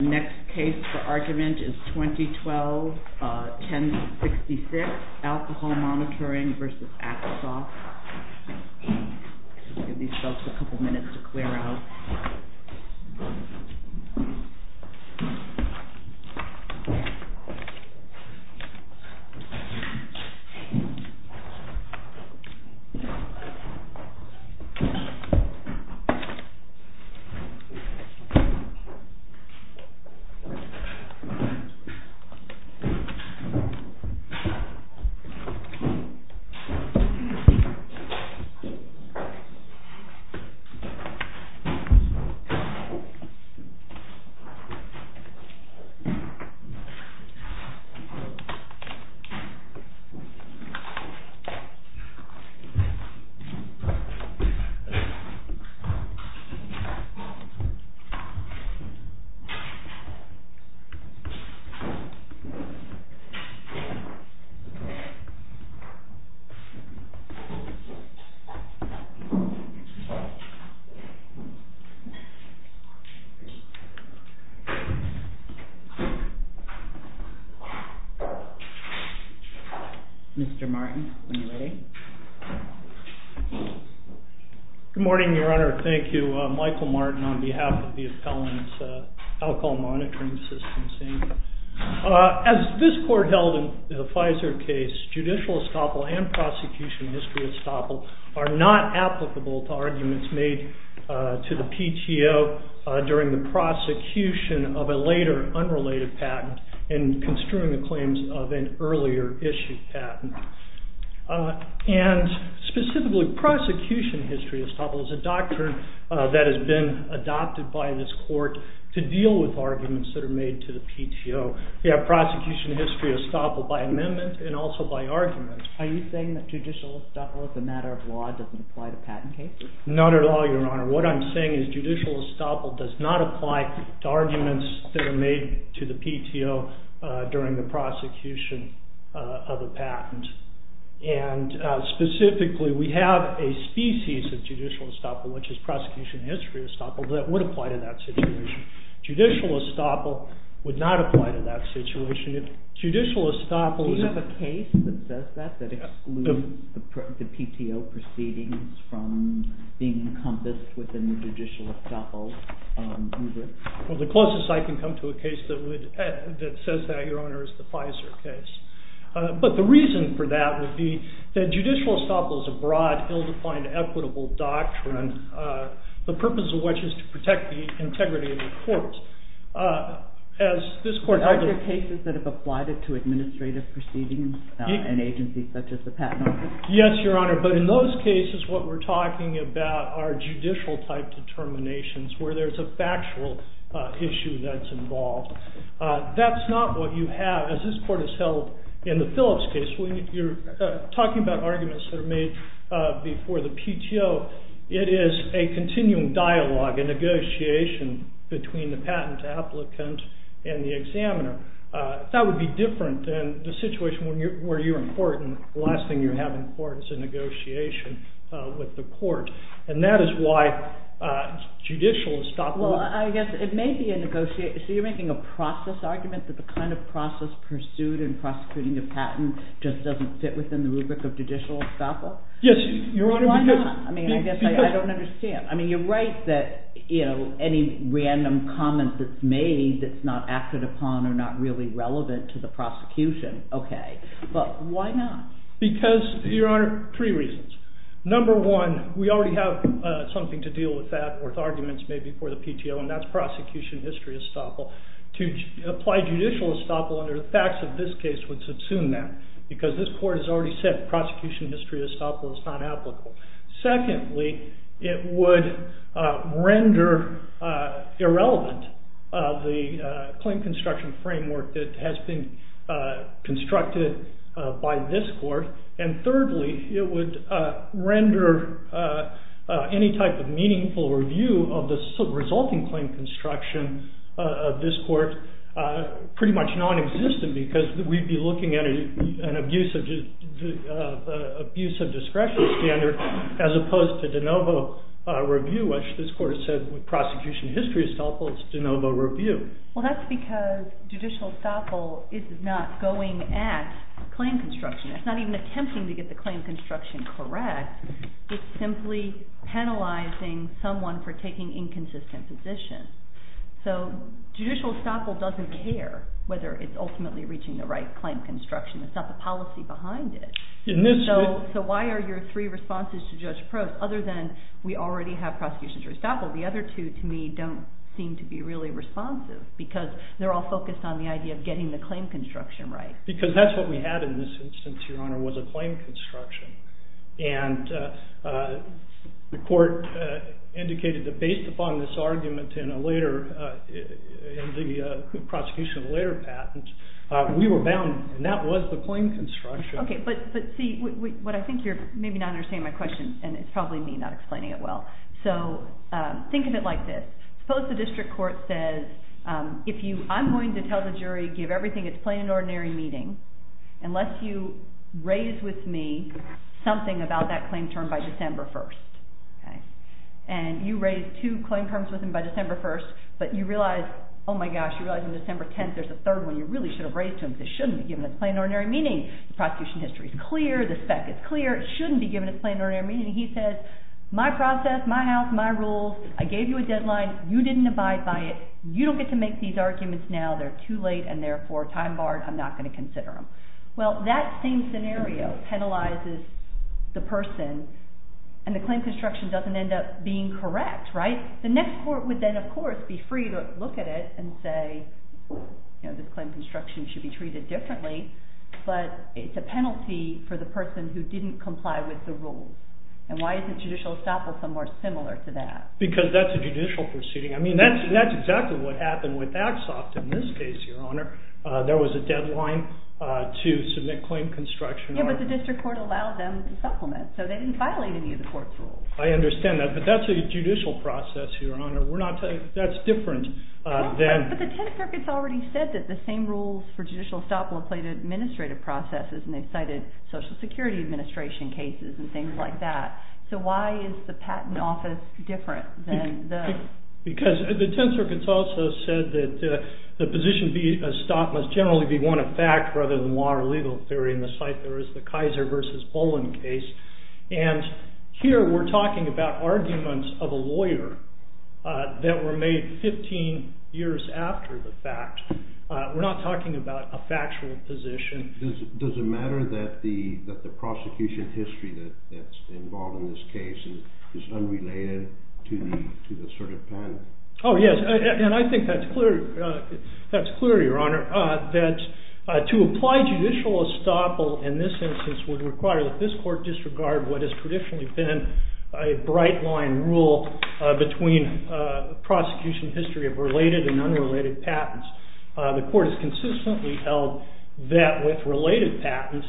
The next case for argument is 2012-1066, ALCOHOL MONITORING v. ACTSOFT. I'll give these folks a couple minutes to clear out. I'll give these folks a couple minutes to clear out. Mr. Martin, when you're ready. Good morning, your honor. Thank you. Michael Martin on behalf of the appellant's ALCOHOL MONITORING system. As this court held in the Pfizer case, judicial estoppel and prosecution history estoppel are not applicable to arguments made to the PTO during the prosecution of a later unrelated patent in construing the claims of an earlier issued patent. Specifically, prosecution history estoppel is a doctrine that has been adopted by this court to deal with arguments that are made to the PTO. We have prosecution history estoppel by amendment and also by argument. Are you saying that judicial estoppel as a matter of law doesn't apply to patent cases? Not at all, your honor. What I'm saying is that judicial estoppel does not apply to arguments that are made to the PTO during the prosecution of a patent. Specifically, we have a species of judicial estoppel, which is prosecution history estoppel, that would apply to that situation. Judicial estoppel would not apply to that situation. Do you have a case that does that, that excludes the PTO proceedings from being encompassed within the judicial estoppel? Well, the closest I can come to a case that says that, your honor, is the Pfizer case. But the reason for that would be that judicial estoppel is a broad, ill-defined, equitable doctrine, the purpose of which is to protect the integrity of the court. Are there cases that have applied it to administrative proceedings in agencies such as the patent office? Yes, your honor, but in those cases what we're talking about are judicial type determinations where there's a factual issue that's involved. That's not what you have, as this court has held in the Phillips case. When you're talking about arguments that are made before the PTO, it is a continuing dialogue, a negotiation between the patent applicant and the examiner. That would be different than the situation where you're in court, and the last thing you have in court is a negotiation with the court. And that is why judicial estoppel... Well, I guess it may be a negotiation... So you're making a process argument that the kind of process pursued in prosecuting a patent just doesn't fit within the rubric of judicial estoppel? Yes, your honor, because... Why not? I mean, I guess I don't understand. I mean, you're right that, you know, any random comment that's made that's not acted upon or not really relevant to the prosecution, okay. But why not? Because, your honor, three reasons. Number one, we already have something to deal with that, with arguments made before the PTO, and that's prosecution history estoppel. To apply judicial estoppel under the facts of this case would subsume that, because this court has already said prosecution history estoppel is not applicable. Secondly, it would render irrelevant the claim construction framework that has been constructed by this court. And thirdly, it would render any type of meaningful review of the resulting claim construction of this court pretty much non-existent, because we'd be looking at an abuse of discretion standard as opposed to de novo review, which this court has said with prosecution history estoppel, it's de novo review. Well, that's because judicial estoppel is not going at claim construction. It's not even attempting to get the claim construction correct. It's simply penalizing someone for taking inconsistent positions. So judicial estoppel doesn't care whether it's ultimately reaching the right claim construction. It's not the policy behind it. So why are your three responses to Judge Probst, other than we already have prosecution history estoppel, the other two, to me, don't seem to be really responsive, because they're all focused on the idea of getting the claim construction right. Because that's what we had in this instance, Your Honor, was a claim construction. And the court indicated that based upon this argument in the prosecution of a later patent, we were bound, and that was the claim construction. Okay, but see, what I think you're maybe not understanding my question, and it's probably me not explaining it well, so think of it like this. Suppose the district court says, I'm going to tell the jury, give everything its plain and ordinary meaning, unless you raise with me something about that claim term by December 1st. And you raise two claim terms with him by December 1st, but you realize, oh my gosh, you realize on December 10th there's a third one you really should have raised to him, because it shouldn't be given its plain and ordinary meaning. The prosecution history is clear, the spec is clear, it shouldn't be given its plain and ordinary meaning. And he says, my process, my house, my rules, I gave you a deadline, you didn't abide by it, you don't get to make these arguments now, they're too late, and therefore time-barred, I'm not going to consider them. Well, that same scenario penalizes the person, and the claim construction doesn't end up being correct, right? The next court would then, of course, be free to look at it and say, this claim construction should be treated differently, but it's a penalty for the person who didn't comply with the rules. And why isn't judicial estoppel somewhere similar to that? Because that's a judicial proceeding. I mean, that's exactly what happened with Axoft in this case, Your Honor. There was a deadline to submit claim construction. Yeah, but the district court allowed them to supplement, so they didn't violate any of the court's rules. I understand that, but that's a judicial process, Your Honor. We're not telling you that's different than... But the Tenth Circuit's already said that the same rules for judicial estoppel apply to administrative processes, and they've cited Social Security Administration cases and things like that. So why is the Patent Office different than those? Because the Tenth Circuit's also said that the position to be estoppel must generally be one of fact rather than law or legal theory, and the site there is the Kaiser v. Olin case. And here we're talking about arguments of a lawyer that were made 15 years after the fact. We're not talking about a factual position. Does it matter that the prosecution history that's involved in this case is unrelated to the sort of patent? Oh, yes, and I think that's clear, Your Honor, that to apply judicial estoppel in this instance would require that this court disregard what has traditionally been a bright-line rule between prosecution history of related and unrelated patents. The court has consistently held that with related patents,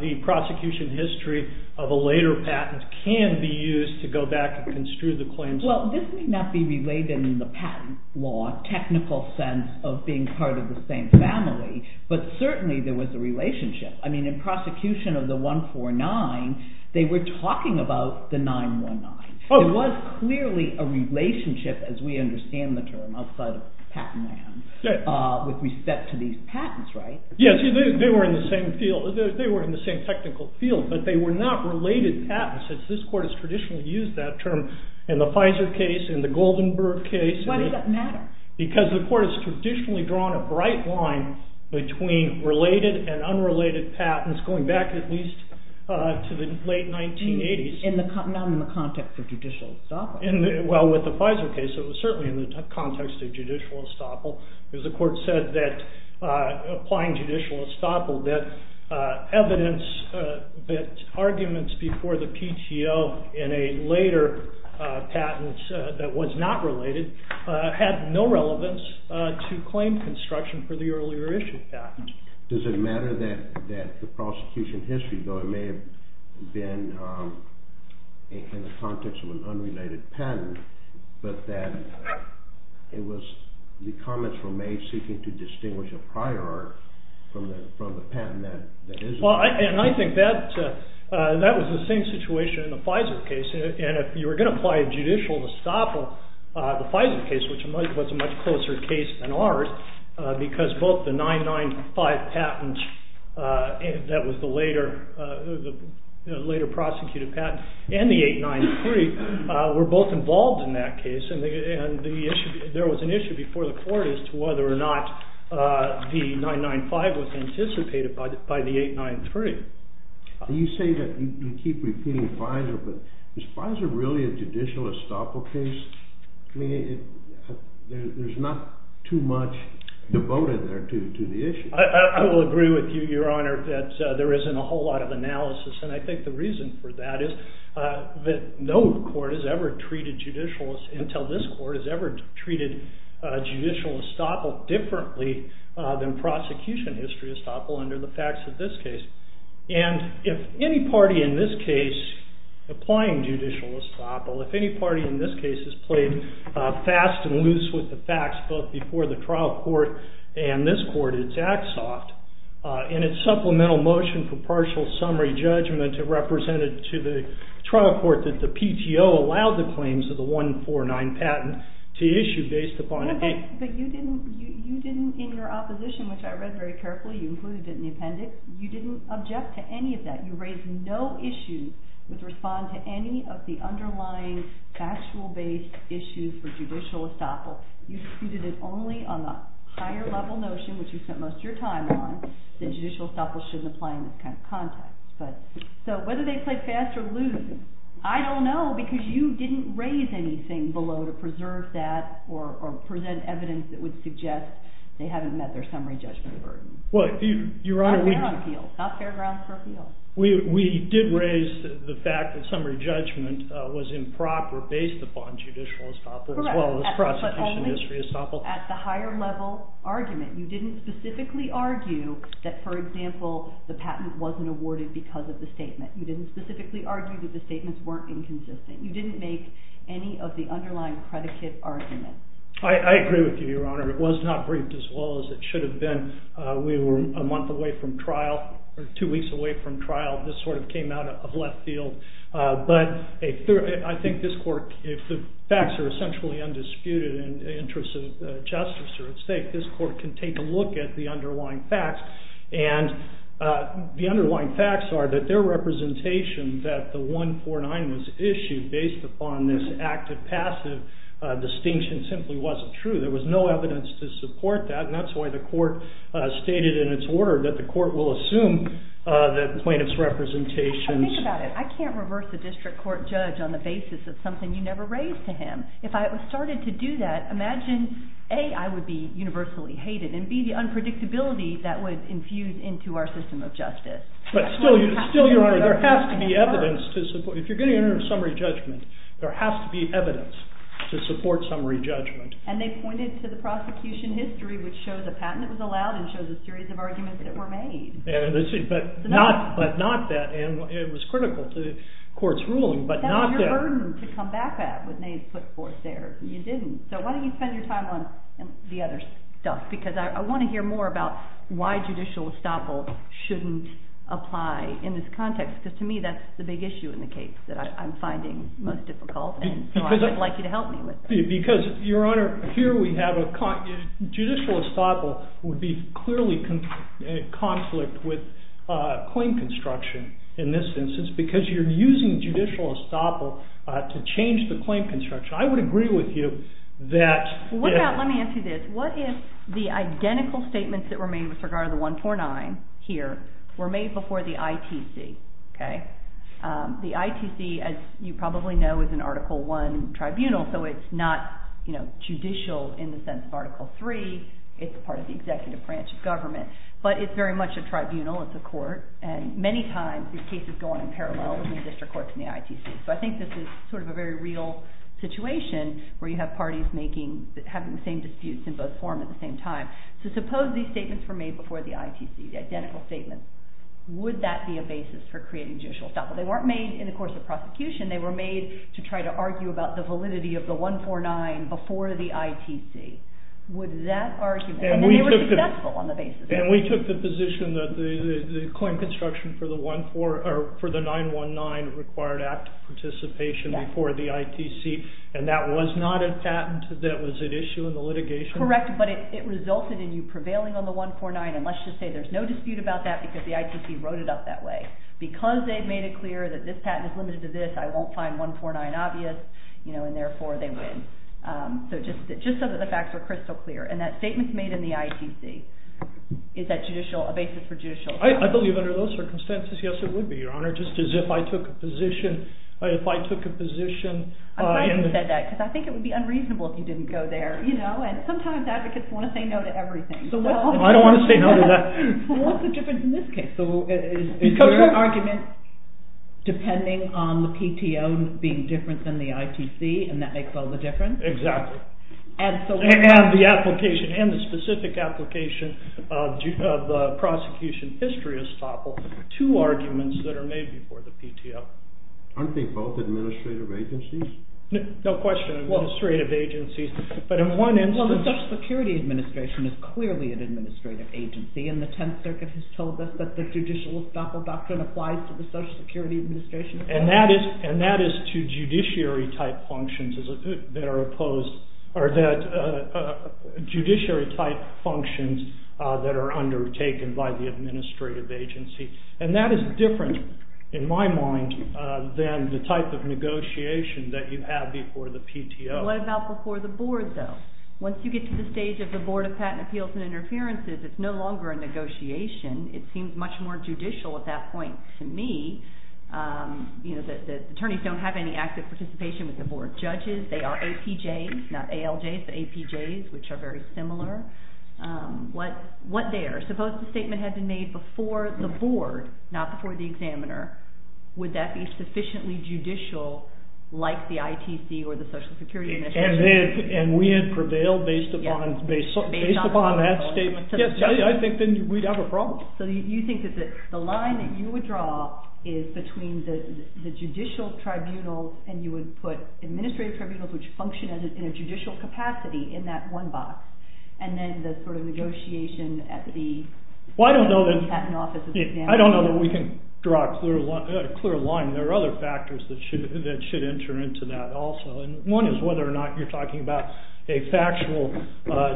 the prosecution history of a later patent can be used to go back and construe the claims. Well, this may not be related in the patent law, technical sense of being part of the same family, but certainly there was a relationship. I mean, in prosecution of the 149, they were talking about the 919. There was clearly a relationship, as we understand the term, outside of patent land with respect to these patents, right? Yes, they were in the same technical field, but they were not related patents. This court has traditionally used that term in the Pfizer case, in the Goldenberg case. Why does that matter? Because the court has traditionally drawn a bright line between related and unrelated patents, going back at least to the late 1980s. Not in the context of judicial estoppel. Well, with the Pfizer case, it was certainly in the context of judicial estoppel because the court said that applying judicial estoppel, that evidence, that arguments before the PTO in a later patent that was not related had no relevance to claim construction for the earlier issued patent. Does it matter that the prosecution history, though it may have been in the context of an unrelated patent, but that the comments were made seeking to distinguish a prior art from the patent that isn't? Well, and I think that was the same situation in the Pfizer case. And if you were going to apply judicial estoppel, the Pfizer case, which was a much closer case than ours, because both the 995 patent, that was the later prosecuted patent, and the 893 were both involved in that case. And there was an issue before the court as to whether or not the 995 was anticipated by the 893. You say that you keep repeating Pfizer, but is Pfizer really a judicial estoppel case? There's not too much devoted there to the issue. I will agree with you, Your Honor, that there isn't a whole lot of analysis. And I think the reason for that is that no court has ever treated judicial, until this court, has ever treated judicial estoppel differently than prosecution history estoppel under the facts of this case. And if any party in this case, applying judicial estoppel, if any party in this case has played fast and loose with the facts, both before the trial court and this court, it's act soft. In its supplemental motion for partial summary judgment, it represented to the trial court that the PTO allowed the claims of the 149 patent to issue based upon a case. But you didn't, in your opposition, which I read very carefully, you included it in the appendix, you didn't object to any of that. You raised no issue with responding to any of the underlying factual-based issues for judicial estoppel. You disputed it only on the higher-level notion, which you spent most of your time on, that judicial estoppel shouldn't apply in this kind of context. So whether they played fast or loose, I don't know, because you didn't raise anything below to preserve that or present evidence that would suggest they haven't met their summary judgment burden. Well, Your Honor, we did raise the fact that summary judgment was improper based upon judicial estoppel, as well as prosecution history estoppel. At the higher-level argument, you didn't specifically argue that, for example, the patent wasn't awarded because of the statement. You didn't specifically argue that the statements weren't inconsistent. You didn't make any of the underlying predicate argument. I agree with you, Your Honor. It was not briefed as well as it should have been. We were a month away from trial, or two weeks away from trial. This sort of came out of left field. But I think this court, if the facts are essentially undisputed and interests of justice are at stake, this court can take a look at the underlying facts. And the underlying facts are that their representation that the 149 was issued based upon this active-passive distinction simply wasn't true. There was no evidence to support that. And that's why the court stated in its order that the court will assume that the plaintiff's representations. I think about it. I can't reverse a district court judge on the basis of something you never raised to him. If I started to do that, imagine, A, I would be universally hated, and B, the unpredictability that would infuse into our system of justice. But still, Your Honor, there has to be evidence to support. If you're going to enter a summary judgment, there has to be evidence to support summary judgment. And they pointed to the prosecution history, which shows a patent that was allowed and shows a series of arguments that were made. But not that. And it was critical to the court's ruling, but not that. It was a burden to come back at when they put forth there. And you didn't. So why don't you spend your time on the other stuff? Because I want to hear more about why judicial estoppel shouldn't apply in this context. Because to me, that's the big issue in the case that I'm finding most difficult. And so I would like you to help me with that. Because, Your Honor, here we have a judicial estoppel would be clearly in conflict with claim construction in this instance because you're using judicial estoppel to change the claim construction. I would agree with you that... Let me ask you this. What if the identical statements that were made with regard to the 149 here were made before the ITC? Okay? The ITC, as you probably know, is an Article I tribunal, so it's not judicial in the sense of Article III. It's part of the executive branch of government. But it's very much a tribunal. It's a court. And many times, these cases go on in parallel between district courts and the ITC. So I think this is sort of a very real situation where you have parties having the same disputes in both forms at the same time. So suppose these statements were made before the ITC, the identical statements. Would that be a basis for creating judicial estoppel? They weren't made in the course of prosecution. They were made to try to argue about the validity of the 149 before the ITC. Would that argument... And they were successful on the basis of that. And we took the position that the claim construction for the 919 required active participation before the ITC, and that was not a patent that was at issue in the litigation? Correct, but it resulted in you prevailing on the 149, and let's just say there's no dispute about that because the ITC wrote it up that way. Because they've made it clear that this patent is limited to this, I won't find 149 obvious, and therefore they win. So just so that the facts are crystal clear. And that statement's made in the ITC. Is that a basis for judicial estoppel? I believe under those circumstances, yes, it would be, Your Honor. Just as if I took a position... I'm glad you said that, because I think it would be unreasonable if you didn't go there, you know? And sometimes advocates want to say no to everything. I don't want to say no to that. What's the difference in this case? Is your argument depending on the PTO being different than the ITC, and that makes all the difference? Exactly. And so we have the application, and the specific application of the prosecution history estoppel, two arguments that are made before the PTO. Aren't they both administrative agencies? No question, administrative agencies. But in one instance... Well, the Social Security Administration is clearly an administrative agency, and the Tenth Circuit has told us that the judicial estoppel doctrine applies to the Social Security Administration. And that is to judiciary-type functions that are opposed... or that... judiciary-type functions that are undertaken by the administrative agency. And that is different, in my mind, than the type of negotiation that you have before the PTO. What about before the Board, though? Once you get to the stage of the Board of Patent Appeals and Interferences, it's no longer a negotiation. It seems much more judicial at that point. To me, you know, the attorneys don't have any active participation with the Board of Judges. They are APJs, not ALJs, but APJs, which are very similar. What there? Suppose the statement had been made before the Board, not before the examiner. Would that be sufficiently judicial, like the ITC or the Social Security Administration? And we had prevailed based upon that statement? Yes, I think then we'd have a problem. So you think that the line that you would draw is between the judicial tribunals and you would put administrative tribunals, which function in a judicial capacity, in that one box, and then the sort of negotiation at the Patent Office of the examiner. I don't know that we can draw a clear line. There are other factors that should enter into that also. One is whether or not you're talking about a factual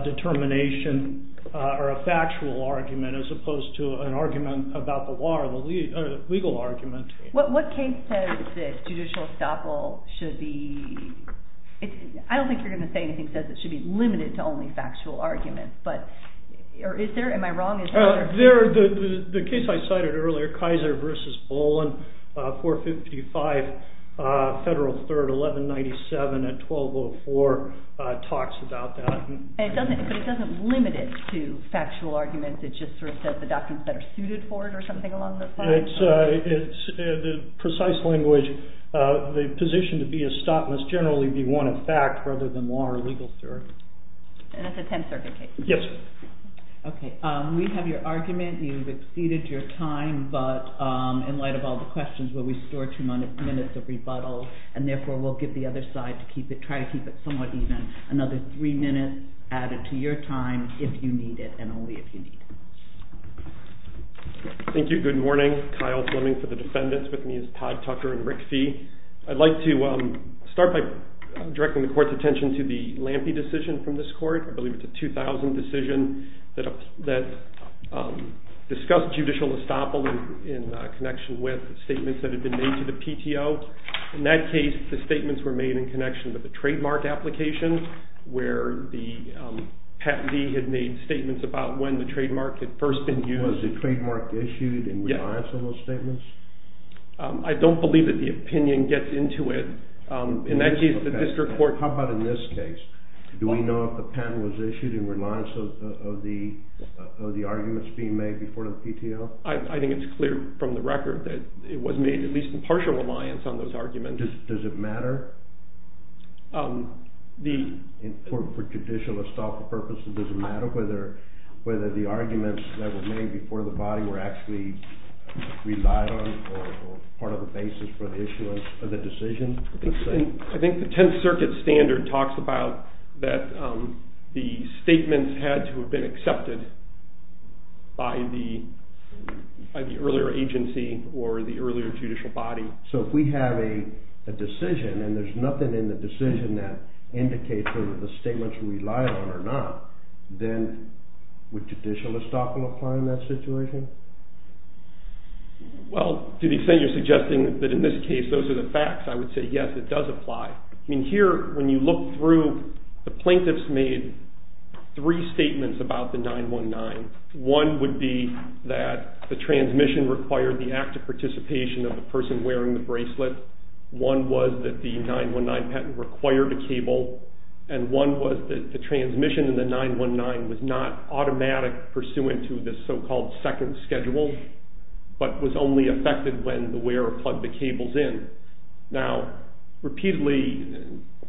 determination or a factual argument as opposed to an argument about the law or a legal argument. What case says that judicial estoppel should be... I don't think you're going to say anything that says it should be limited to only factual arguments. Or is there? Am I wrong? The case I cited earlier, Kaiser v. Bolin, 455 Federal 3rd, 1197, 1204, talks about that. But it doesn't limit it to factual arguments. It just sort of says the documents that are suited for it or something along those lines? It's the precise language. The position to be estoppel must generally be one of fact rather than law or legal theory. And that's a Tenth Circuit case? Yes. Okay. We have your argument. You've exceeded your time. But in light of all the questions, we'll restore two minutes of rebuttal, and therefore we'll give the other side to try to keep it somewhat even. Another three minutes added to your time, if you need it, and only if you need it. Thank you. Good morning. Kyle Fleming for the defendants. With me is Todd Tucker and Rick Fee. I'd like to start by directing the Court's attention to the Lampe decision from this Court. I believe it's a 2000 decision that discussed judicial estoppel in connection with statements that had been made to the PTO. In that case, the statements were made in connection with the trademark application, where the patentee had made statements about when the trademark had first been used. Was the trademark issued in reliance on those statements? I don't believe that the opinion gets into it. In that case, the district court... How about in this case? Do we know if the patent was issued in reliance of the arguments being made before the PTO? I think it's clear from the record that it was made at least in partial reliance on those arguments. Does it matter? For judicial estoppel purposes, does it matter whether the arguments that were made before the body were actually relied on or part of the basis for the issue of the decision? I think the Tenth Circuit standard talks about that the statements had to have been accepted by the earlier agency or the earlier judicial body. So if we have a decision and there's nothing in the decision that indicates whether the statement's relied on or not, then would judicial estoppel apply in that situation? Well, to the extent you're suggesting that in this case those are the facts, I would say yes, it does apply. Here, when you look through, the plaintiffs made three statements about the 919. One would be that the transmission required the active participation of the person wearing the bracelet. One was that the 919 patent required a cable. And one was that the transmission in the 919 was not automatic, pursuant to the so-called second schedule, but was only affected when the wearer plugged the cables in. Now, repeatedly,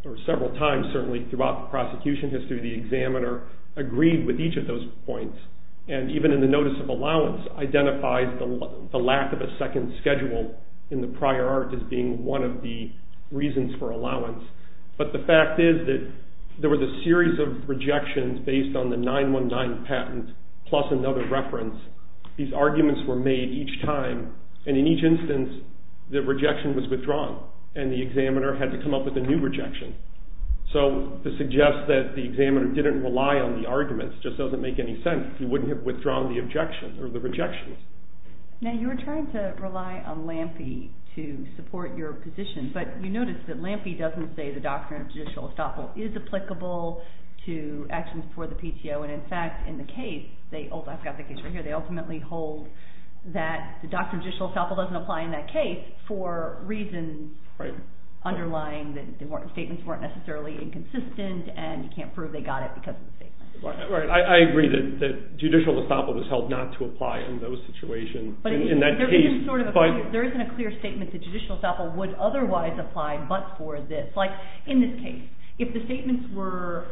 or several times certainly throughout the prosecution history, the examiner agreed with each of those points, and even in the notice of allowance identifies the lack of a second schedule in the prior art as being one of the reasons for allowance. But the fact is that there was a series of rejections based on the 919 patent, plus another reference. These arguments were made each time, and in each instance the rejection was withdrawn, and the examiner had to come up with a new rejection. So to suggest that the examiner didn't rely on the arguments just doesn't make any sense. He wouldn't have withdrawn the objection or the rejection. Now, you were trying to rely on Lampe to support your position, but you notice that Lampe doesn't say the doctrine of judicial estoppel is applicable to actions for the PTO. And in fact, in the case, I've got the case right here, they ultimately hold that the doctrine of judicial estoppel doesn't apply in that case for reasons underlying that the statements weren't necessarily inconsistent, and you can't prove they got it because of the statement. Right, I agree that judicial estoppel was held not to apply in those situations. There isn't a clear statement that judicial estoppel would otherwise apply but for this. Like, in this case, if the statements were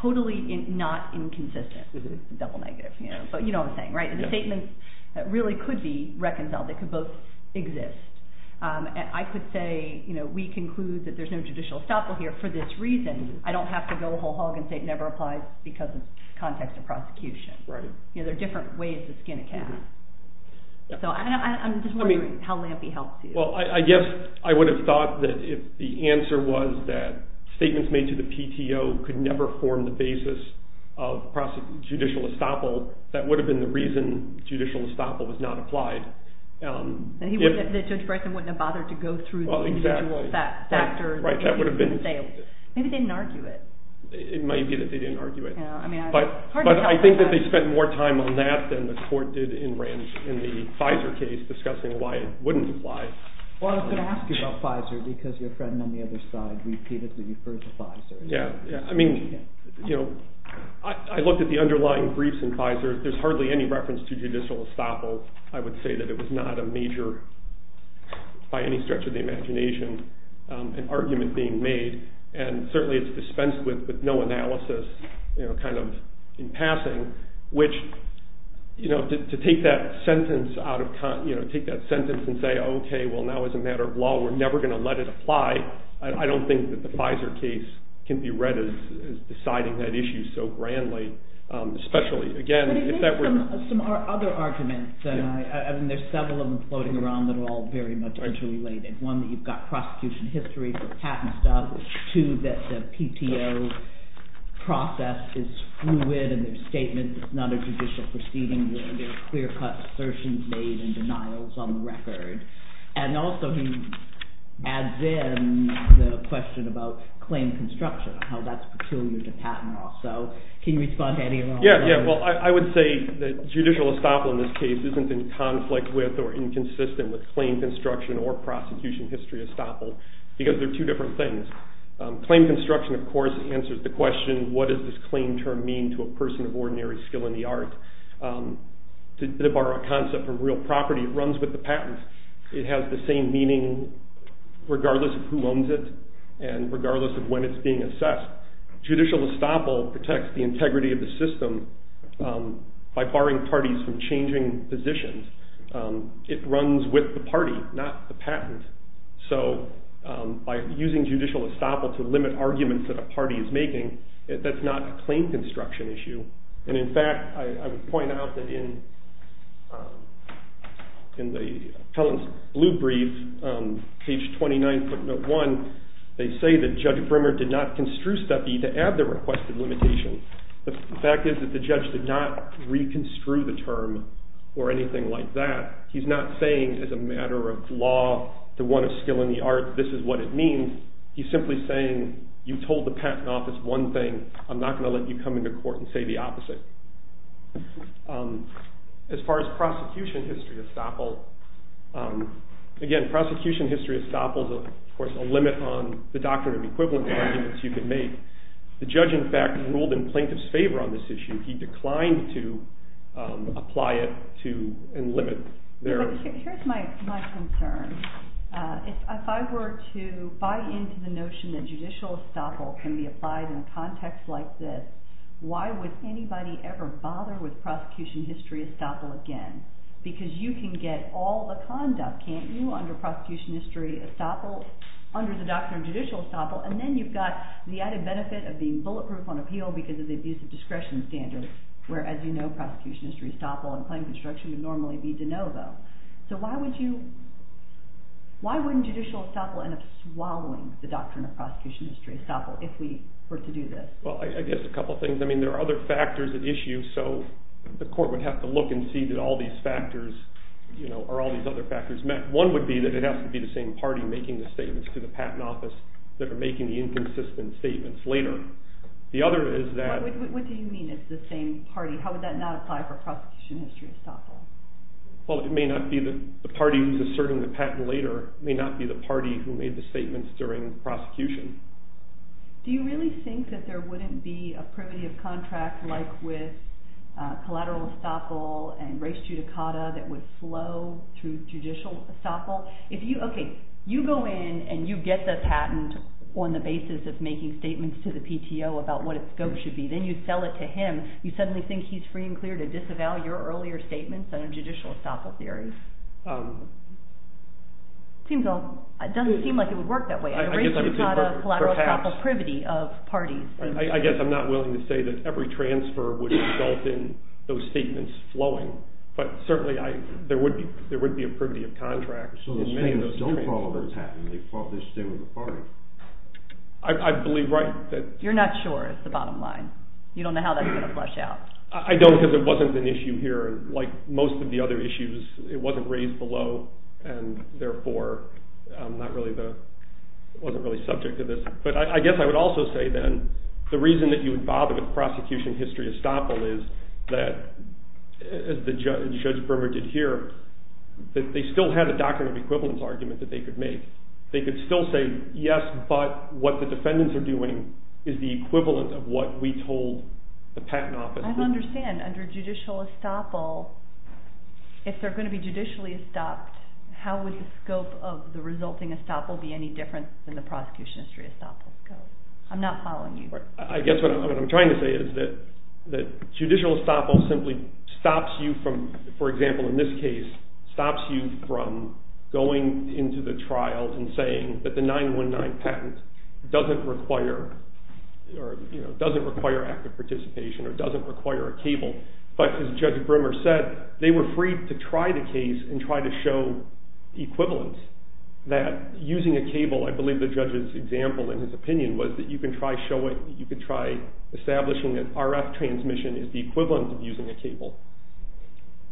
totally not inconsistent, double negative, but you know what I'm saying, right? The statements really could be reconciled, they could both exist. And I could say, you know, we conclude that there's no judicial estoppel here for this reason. I don't have to go whole hog and say it never applies because of the context of prosecution. You know, there are different ways to skin a cat. So I'm just wondering how Lampe helps you. Well, I guess I would have thought that if the answer was that statements made to the PTO could never form the basis of judicial estoppel, that would have been the reason judicial estoppel was not applied. That Judge Bryson wouldn't have bothered to go through the individual factors. Right, that would have been. Maybe they didn't argue it. It might be that they didn't argue it. But I think that they spent more time on that than the court did in the Pfizer case discussing why it wouldn't apply. Well, I was going to ask you about Pfizer because your friend on the other side repeatedly referred to Pfizer. Yeah, I mean, you know, I looked at the underlying briefs in Pfizer. There's hardly any reference to judicial estoppel. I would say that it was not a major, by any stretch of the imagination, an argument being made. And certainly it's dispensed with with no analysis, you know, kind of in passing, which, you know, to take that sentence out of context, you know, take that sentence and say, OK, well, now as a matter of law, we're never going to let it apply. I don't think that the Pfizer case can be read as deciding that issue so grandly. Especially, again, if that were. But it makes some other arguments. I mean, there's several of them floating around that are all very much interrelated. One, that you've got prosecution history for patent estoppel. Two, that the PTO process is fluid in their statements. It's not a judicial proceeding. There are clear-cut assertions made and denials on the record. And also, he adds in the question about claim construction, how that's peculiar to patent law. So can you respond to any of those? Yeah, yeah. Well, I would say that judicial estoppel in this case isn't in conflict with or inconsistent with claim construction or prosecution history estoppel, because they're two different things. Claim construction, of course, answers the question, what does this claim term mean to a person of ordinary skill in the art? To borrow a concept from real property, it runs with the patent. It has the same meaning regardless of who owns it and regardless of when it's being assessed. Judicial estoppel protects the integrity of the system by barring parties from changing positions. It runs with the party, not the patent. So by using judicial estoppel to limit arguments that a party is making, that's not a claim construction issue. And in fact, I would point out that in the appellant's blue brief, page 29, footnote 1, they say that Judge Brimmer did not construe step E to add the requested limitation. The fact is that the judge did not reconstrue the term or anything like that. He's not saying, as a matter of law, to one of skill in the art, this is what it means. He's simply saying, you told the patent office one thing. I'm not going to let you come into court and say the opposite. As far as prosecution history estoppel, again, prosecution history estoppel is, of course, a limit on the doctrine of equivalence arguments you can make. The judge, in fact, ruled in plaintiff's favor on this issue. He declined to apply it and limit. Here's my concern. If I were to buy into the notion that judicial estoppel can be applied in a context like this, why would anybody ever bother with prosecution history estoppel again? Because you can get all the conduct, can't you, under prosecution history estoppel, under the doctrine of judicial estoppel. And then you've got the added benefit of being bulletproof on appeal because of the abuse of discretion standard, where, as you know, prosecution history estoppel and claim construction would normally be de novo. So why wouldn't judicial estoppel end up swallowing the doctrine of prosecution history estoppel if we were to do this? Well, I guess a couple things. I mean, there are other factors at issue. So the court would have to look and see that all these factors are all these other factors. One would be that it has to be the same party making the statements to the patent office that are making the inconsistent statements later. The other is that. What do you mean it's the same party? How would that not apply for prosecution history estoppel? Well, it may not be the party who's asserting the patent later. It may not be the party who made the statements during prosecution. Do you really think that there wouldn't be a privity of contract like with collateral estoppel and res judicata that would flow through judicial estoppel? OK, you go in and you get the patent on the basis of making statements to the PTO about what its scope should be. Then you sell it to him. You suddenly think he's free and clear to disavow your earlier statements under judicial estoppel theory. It doesn't seem like it would work that way. I'm afraid there's not a collateral estoppel privity of parties. I guess I'm not willing to say that every transfer would result in those statements flowing. But certainly, there would be a privity of contract. So the minions don't follow their patent. They follow their statement of the party. I believe right that. You're not sure is the bottom line. You don't know how that's going to flesh out. I don't because it wasn't an issue here. Like most of the other issues, it wasn't raised below. And therefore, it wasn't really subject to this. But I guess I would also say then, the reason that you would bother with prosecution history estoppel is that, as Judge Bremer did here, that they still had a doctrine of equivalence argument that they could make. They could still say, yes, but what the defendants are doing is the equivalent of what we told the patent office to do. I don't understand. Under judicial estoppel, if they're going to be judicially estopped, how would the scope of the resulting estoppel be any different than the prosecution history estoppel scope? I'm not following you. I guess what I'm trying to say is that judicial estoppel simply stops you from, for example, in this case, stops you from going into the trial and saying that the 919 patent doesn't require or doesn't require active participation or doesn't require a cable. But as Judge Bremer said, they were free to try the case and try to show equivalence that using a cable, I believe the judge's example in his opinion was that you could try establishing that RF transmission is the equivalent of using a cable.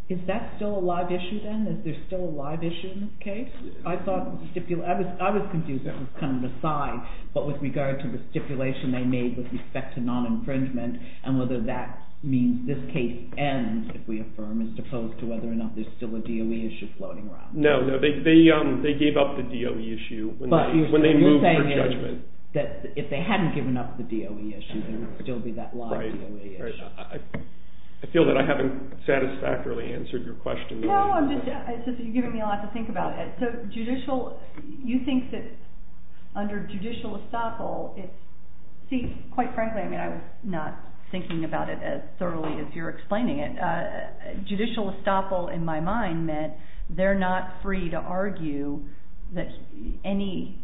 Is that still a live issue then? Is there still a live issue in this case? I was confused. That was kind of an aside. But with regard to the stipulation they made with respect to non-infringement and whether that means this case ends, if we affirm, as opposed to whether or not there's still a DOE issue floating around. No, they gave up the DOE issue when they moved for judgment. If they hadn't given up the DOE issue, there would still be that live DOE issue. I feel that I haven't satisfactorily answered your question. No, it's just that you're giving me a lot to think about. So you think that under judicial estoppel, quite frankly, I was not thinking about it as thoroughly as you're explaining it. Judicial estoppel, in my mind, meant they're not free to argue that anybody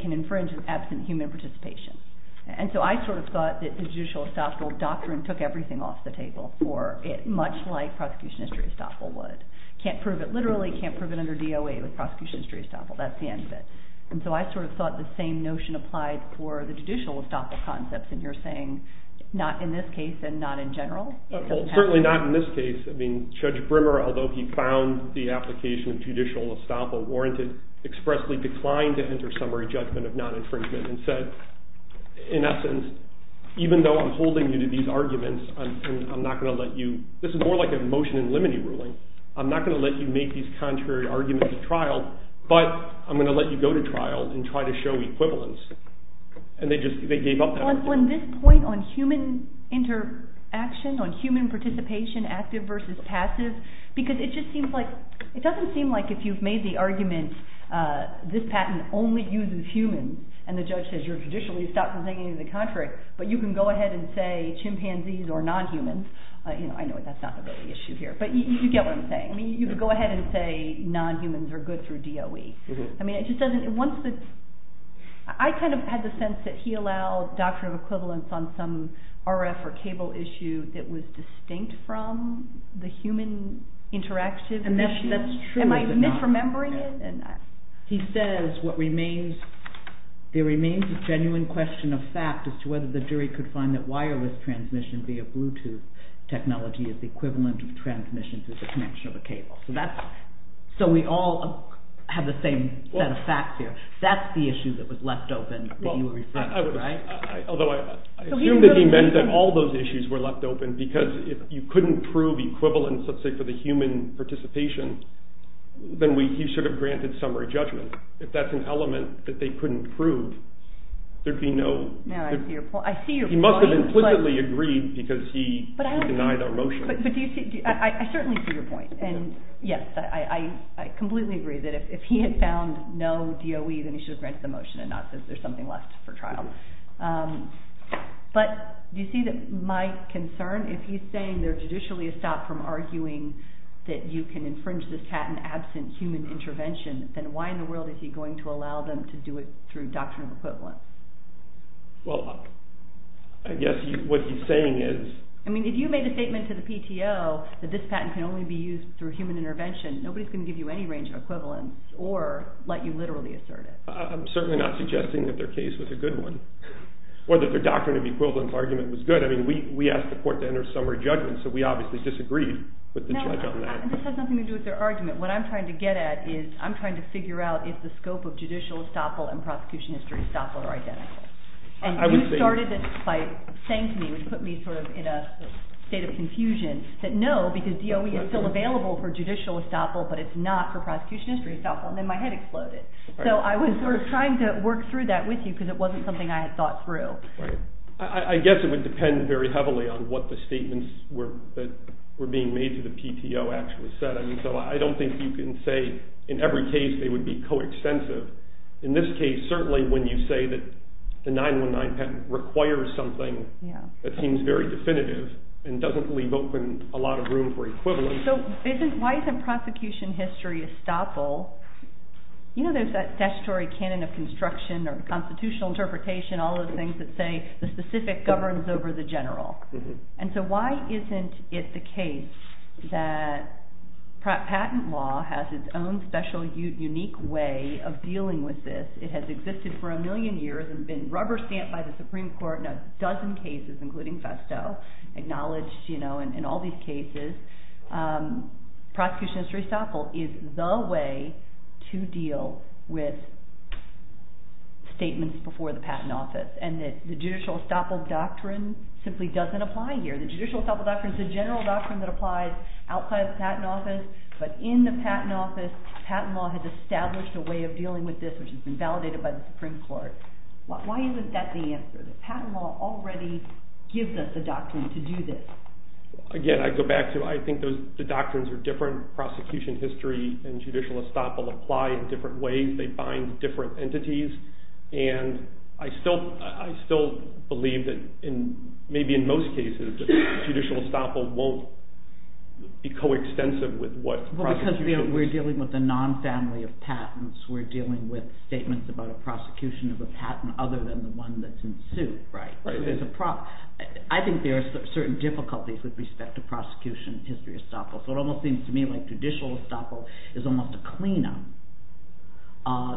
can infringe absent human participation. And so I sort of thought that the judicial estoppel doctrine took everything off the table for it, much like prosecution history estoppel would. Can't prove it literally. Can't prove it under DOA with prosecution history estoppel. That's the end of it. And so I sort of thought the same notion applied for the judicial estoppel concepts. And you're saying not in this case and not in general? Certainly not in this case. I mean, Judge Brimmer, although he found the application of judicial estoppel warranted, expressly declined to enter summary judgment of non-infringement and said, in essence, even though I'm holding you to these arguments and I'm not going to let you, this is more like a motion in limine ruling, I'm not going to let you make these contrary arguments at trial, but I'm going to let you go to trial and try to show equivalence. And they just gave up that argument. On this point, on human interaction, on human participation, active versus passive, because it just seems like, it doesn't seem like if you've made the argument this patent only uses humans, and the judge says you're traditionally stopped from saying any of the contrary, but you can go ahead and say chimpanzees or non-humans. I know that's not the real issue here, but you get what I'm saying. I mean, you could go ahead and say non-humans are good through DOE. I mean, it just doesn't, once the, I kind of had the sense that he allowed doctrine of equivalence on some RF or cable issue that was distinct from the human interactive issue. And that's true. Am I misremembering it? He says what remains, there remains a genuine question of fact as to whether the jury could find that wireless transmission via Bluetooth technology is the equivalent of transmission through the connection of a cable. So we all have the same set of facts here. That's the issue that was left open that you were referring to. Although I assume that he meant that all those issues were left open, because if you couldn't prove equivalence, let's say, for the human participation, then he should have granted summary judgment. If that's an element that they couldn't prove, there'd be no, I see your point. He must have implicitly agreed because he denied our motion. But do you see, I certainly see your point. And yes, I completely agree that if he had found no DOE, then he should have granted the motion and not said there's something left for trial. But do you see that my concern, if he's saying there's judicially a stop from arguing that you can infringe this patent absent human intervention, then why in the world is he going to allow them to do it through doctrine of equivalence? Well, I guess what he's saying is... I mean, if you made a statement to the PTO that this patent can only be used through human intervention, nobody's going to give you any range of equivalence or let you literally assert it. I'm certainly not suggesting that their case was a good one or that their doctrine of equivalence argument was good. I mean, we asked the court to enter summary judgment, so we obviously disagreed with the judge on that. No, this has nothing to do with their argument. What I'm trying to get at is I'm trying to figure out why is the scope of judicial estoppel and prosecution history estoppel are identical? And you started this by saying to me, which put me sort of in a state of confusion, that no, because DOE is still available for judicial estoppel, but it's not for prosecution history estoppel. And then my head exploded. So I was sort of trying to work through that with you because it wasn't something I had thought through. I guess it would depend very heavily on what the statements were that were being made to the PTO actually said. I mean, so I don't think you can say in every case they would be coextensive. In this case, certainly when you say that the 919 patent requires something that seems very definitive and doesn't leave open a lot of room for equivalence. So why isn't prosecution history estoppel? You know there's that statutory canon of construction or constitutional interpretation, all those things that say the specific governs over the general. And so why isn't it the case that patent law has its own special unique way of dealing with this? It has existed for a million years and been rubber stamped by the Supreme Court in a dozen cases, including Festo, acknowledged in all these cases. Prosecution history estoppel is the way to deal with statements before the patent office. And the judicial estoppel doctrine simply doesn't apply here. The judicial estoppel doctrine is a general doctrine that applies outside the patent office, but in the patent office, patent law has established a way of dealing with this, which has been validated by the Supreme Court. Why isn't that the answer? The patent law already gives us the doctrine to do this. Again, I go back to I think the doctrines are different. Prosecution history and judicial estoppel apply in different ways. They bind different entities. And I still believe that maybe in most cases judicial estoppel won't be co-extensive with what prosecution is. Because we're dealing with a non-family of patents. We're dealing with statements about a prosecution of a patent other than the one that's in suit, right? Right. I think there are certain difficulties with respect to prosecution history estoppel. So it almost seems to me like judicial estoppel is almost a clean-up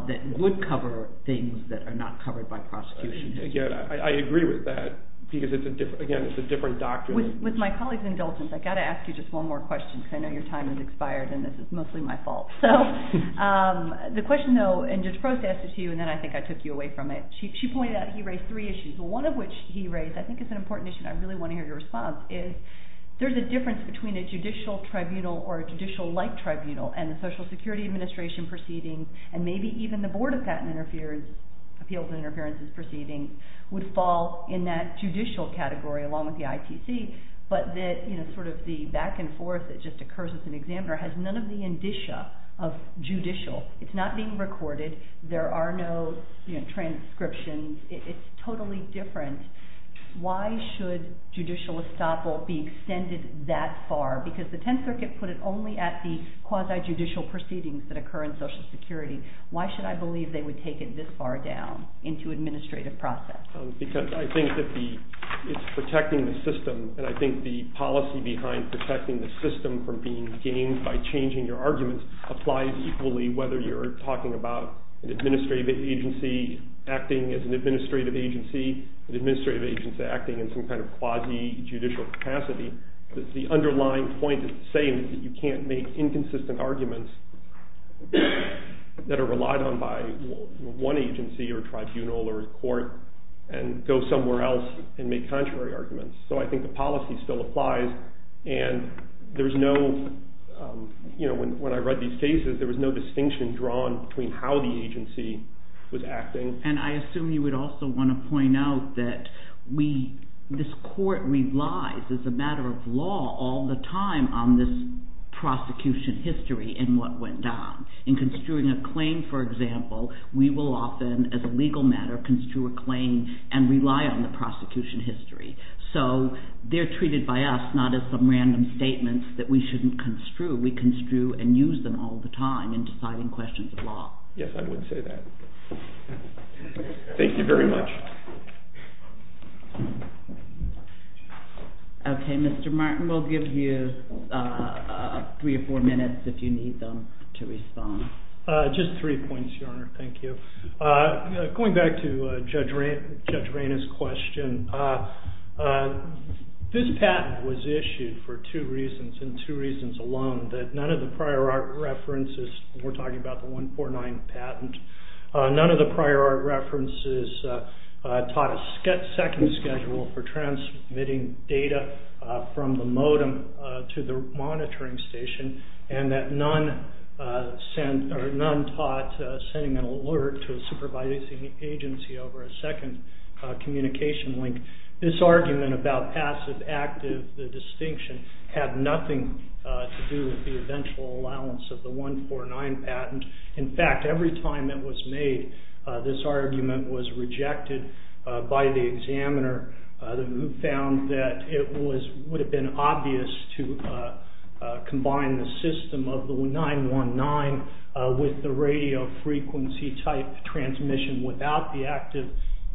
that would cover things that are not covered by prosecution history. Again, I agree with that. Because, again, it's a different doctrine. With my colleague's indulgence, I've got to ask you just one more question because I know your time has expired and this is mostly my fault. The question, though, and Judge Frost asked it to you and then I think I took you away from it. She pointed out he raised three issues, one of which he raised I think is an important issue and I really want to hear your response is there's a difference between a judicial tribunal or a judicial-like tribunal and the Social Security Administration proceedings and maybe even the Board of Patent Appeals and Interferences proceedings would fall in that judicial category along with the ITC but that sort of the back and forth that just occurs with an examiner has none of the indicia of judicial. It's not being recorded. There are no transcriptions. It's totally different. Why should judicial estoppel be extended that far? Because the Tenth Circuit put it only at the quasi-judicial proceedings that occur in Social Security. Why should I believe they would take it this far down into administrative process? Because I think that it's protecting the system and I think the policy behind protecting the system from being gained by changing your arguments applies equally whether you're talking about an administrative agency acting as an administrative agency, an administrative agency acting in some kind of quasi-judicial capacity. The underlying point is the same that you can't make inconsistent arguments that are relied on by one agency or tribunal or court and go somewhere else and make contrary arguments. So I think the policy still applies and when I read these cases there was no distinction drawn between how the agency was acting. And I assume you would also want to point out that this court relies as a matter of law all the time on this prosecution history and what went down. In construing a claim, for example, we will often, as a legal matter, construe a claim and rely on the prosecution history. So they're treated by us not as some random statements that we shouldn't construe. We construe and use them all the time in deciding questions of law. Yes, I would say that. Thank you very much. Okay, Mr. Martin, we'll give you three or four minutes if you need them to respond. Just three points, Your Honor, thank you. Going back to Judge Rayna's question, this patent was issued for two reasons and two reasons alone, that none of the prior art references when we're talking about the 149 patent, none of the prior art references taught a second schedule for transmitting data from the modem to the monitoring station and that none taught sending an alert to a supervising agency over a second communication link. This argument about passive-active distinction had nothing to do with the eventual allowance of the 149 patent. In fact, every time it was made, this argument was rejected by the examiner who found that it would have been obvious to combine the system of the 919 with the radio frequency type transmission without the active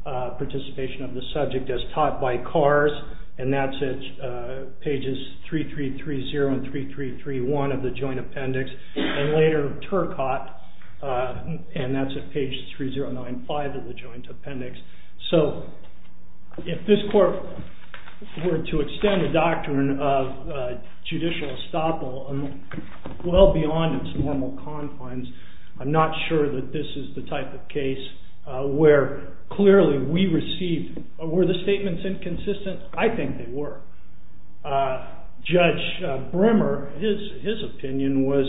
participation of the subject as taught by Kars, and that's at pages 3330 and 3331 of the Joint Appendix, and later Turcotte, and that's at page 3095 of the Joint Appendix. So if this court were to extend a doctrine of judicial estoppel well beyond its normal confines, I'm not sure that this is the type of case where clearly we received... Were the statements inconsistent? I think they were. Judge Brimmer, his opinion was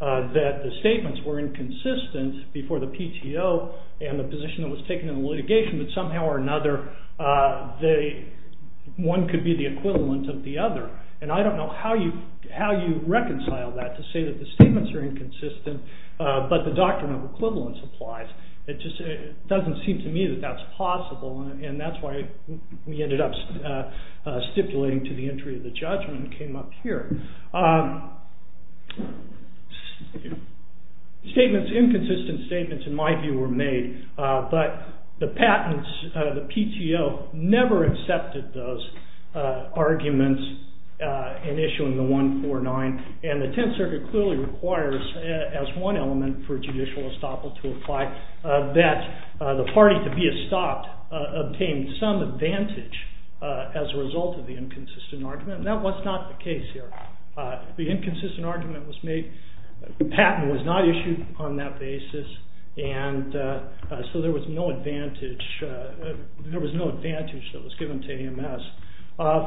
that the statements were inconsistent before the PTO and the position was taken in the litigation, that somehow or another one could be the equivalent of the other, and I don't know how you reconcile that to say that the statements are inconsistent but the doctrine of equivalence applies. It just doesn't seem to me that that's possible, and that's why we ended up stipulating to the entry of the judgment and came up here. Statements, inconsistent statements, in my view, were made, but the patents, the PTO, never accepted those arguments in issuing the 149, and the Tenth Circuit clearly requires as one element for judicial estoppel to apply that the party to be estopped obtained some advantage as a result of the inconsistent argument, and that was not the case here. The inconsistent argument was made, the patent was not issued on that basis, and so there was no advantage that was given to AMS.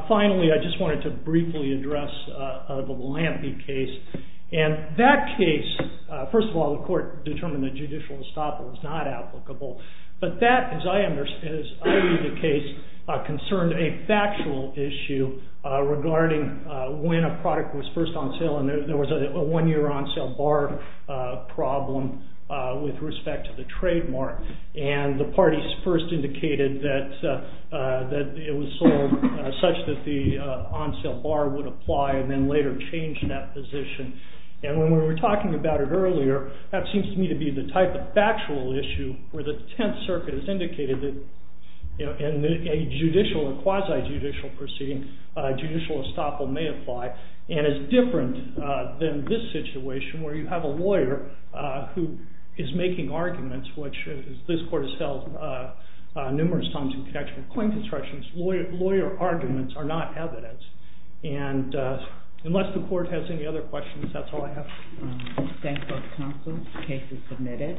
Finally, I just wanted to briefly address the Lampe case, and that case, first of all, the court determined that judicial estoppel was not applicable, but that, as I read the case, concerned a factual issue regarding when a product was first on sale, and there was a one-year on-sale bar problem with respect to the trademark, and the parties first indicated that it was sold such that the on-sale bar would apply and then later change that position, and when we were talking about it earlier, that seems to me to be the type of factual issue where the Tenth Circuit has indicated that in a judicial or quasi-judicial proceeding, judicial estoppel may apply, and is different than this situation where you have a lawyer who is making arguments, which this court has held numerous times in connection with coin constructions. Lawyer arguments are not evidence, and unless the court has any other questions, that's all I have. Thank you, counsel. The case is submitted.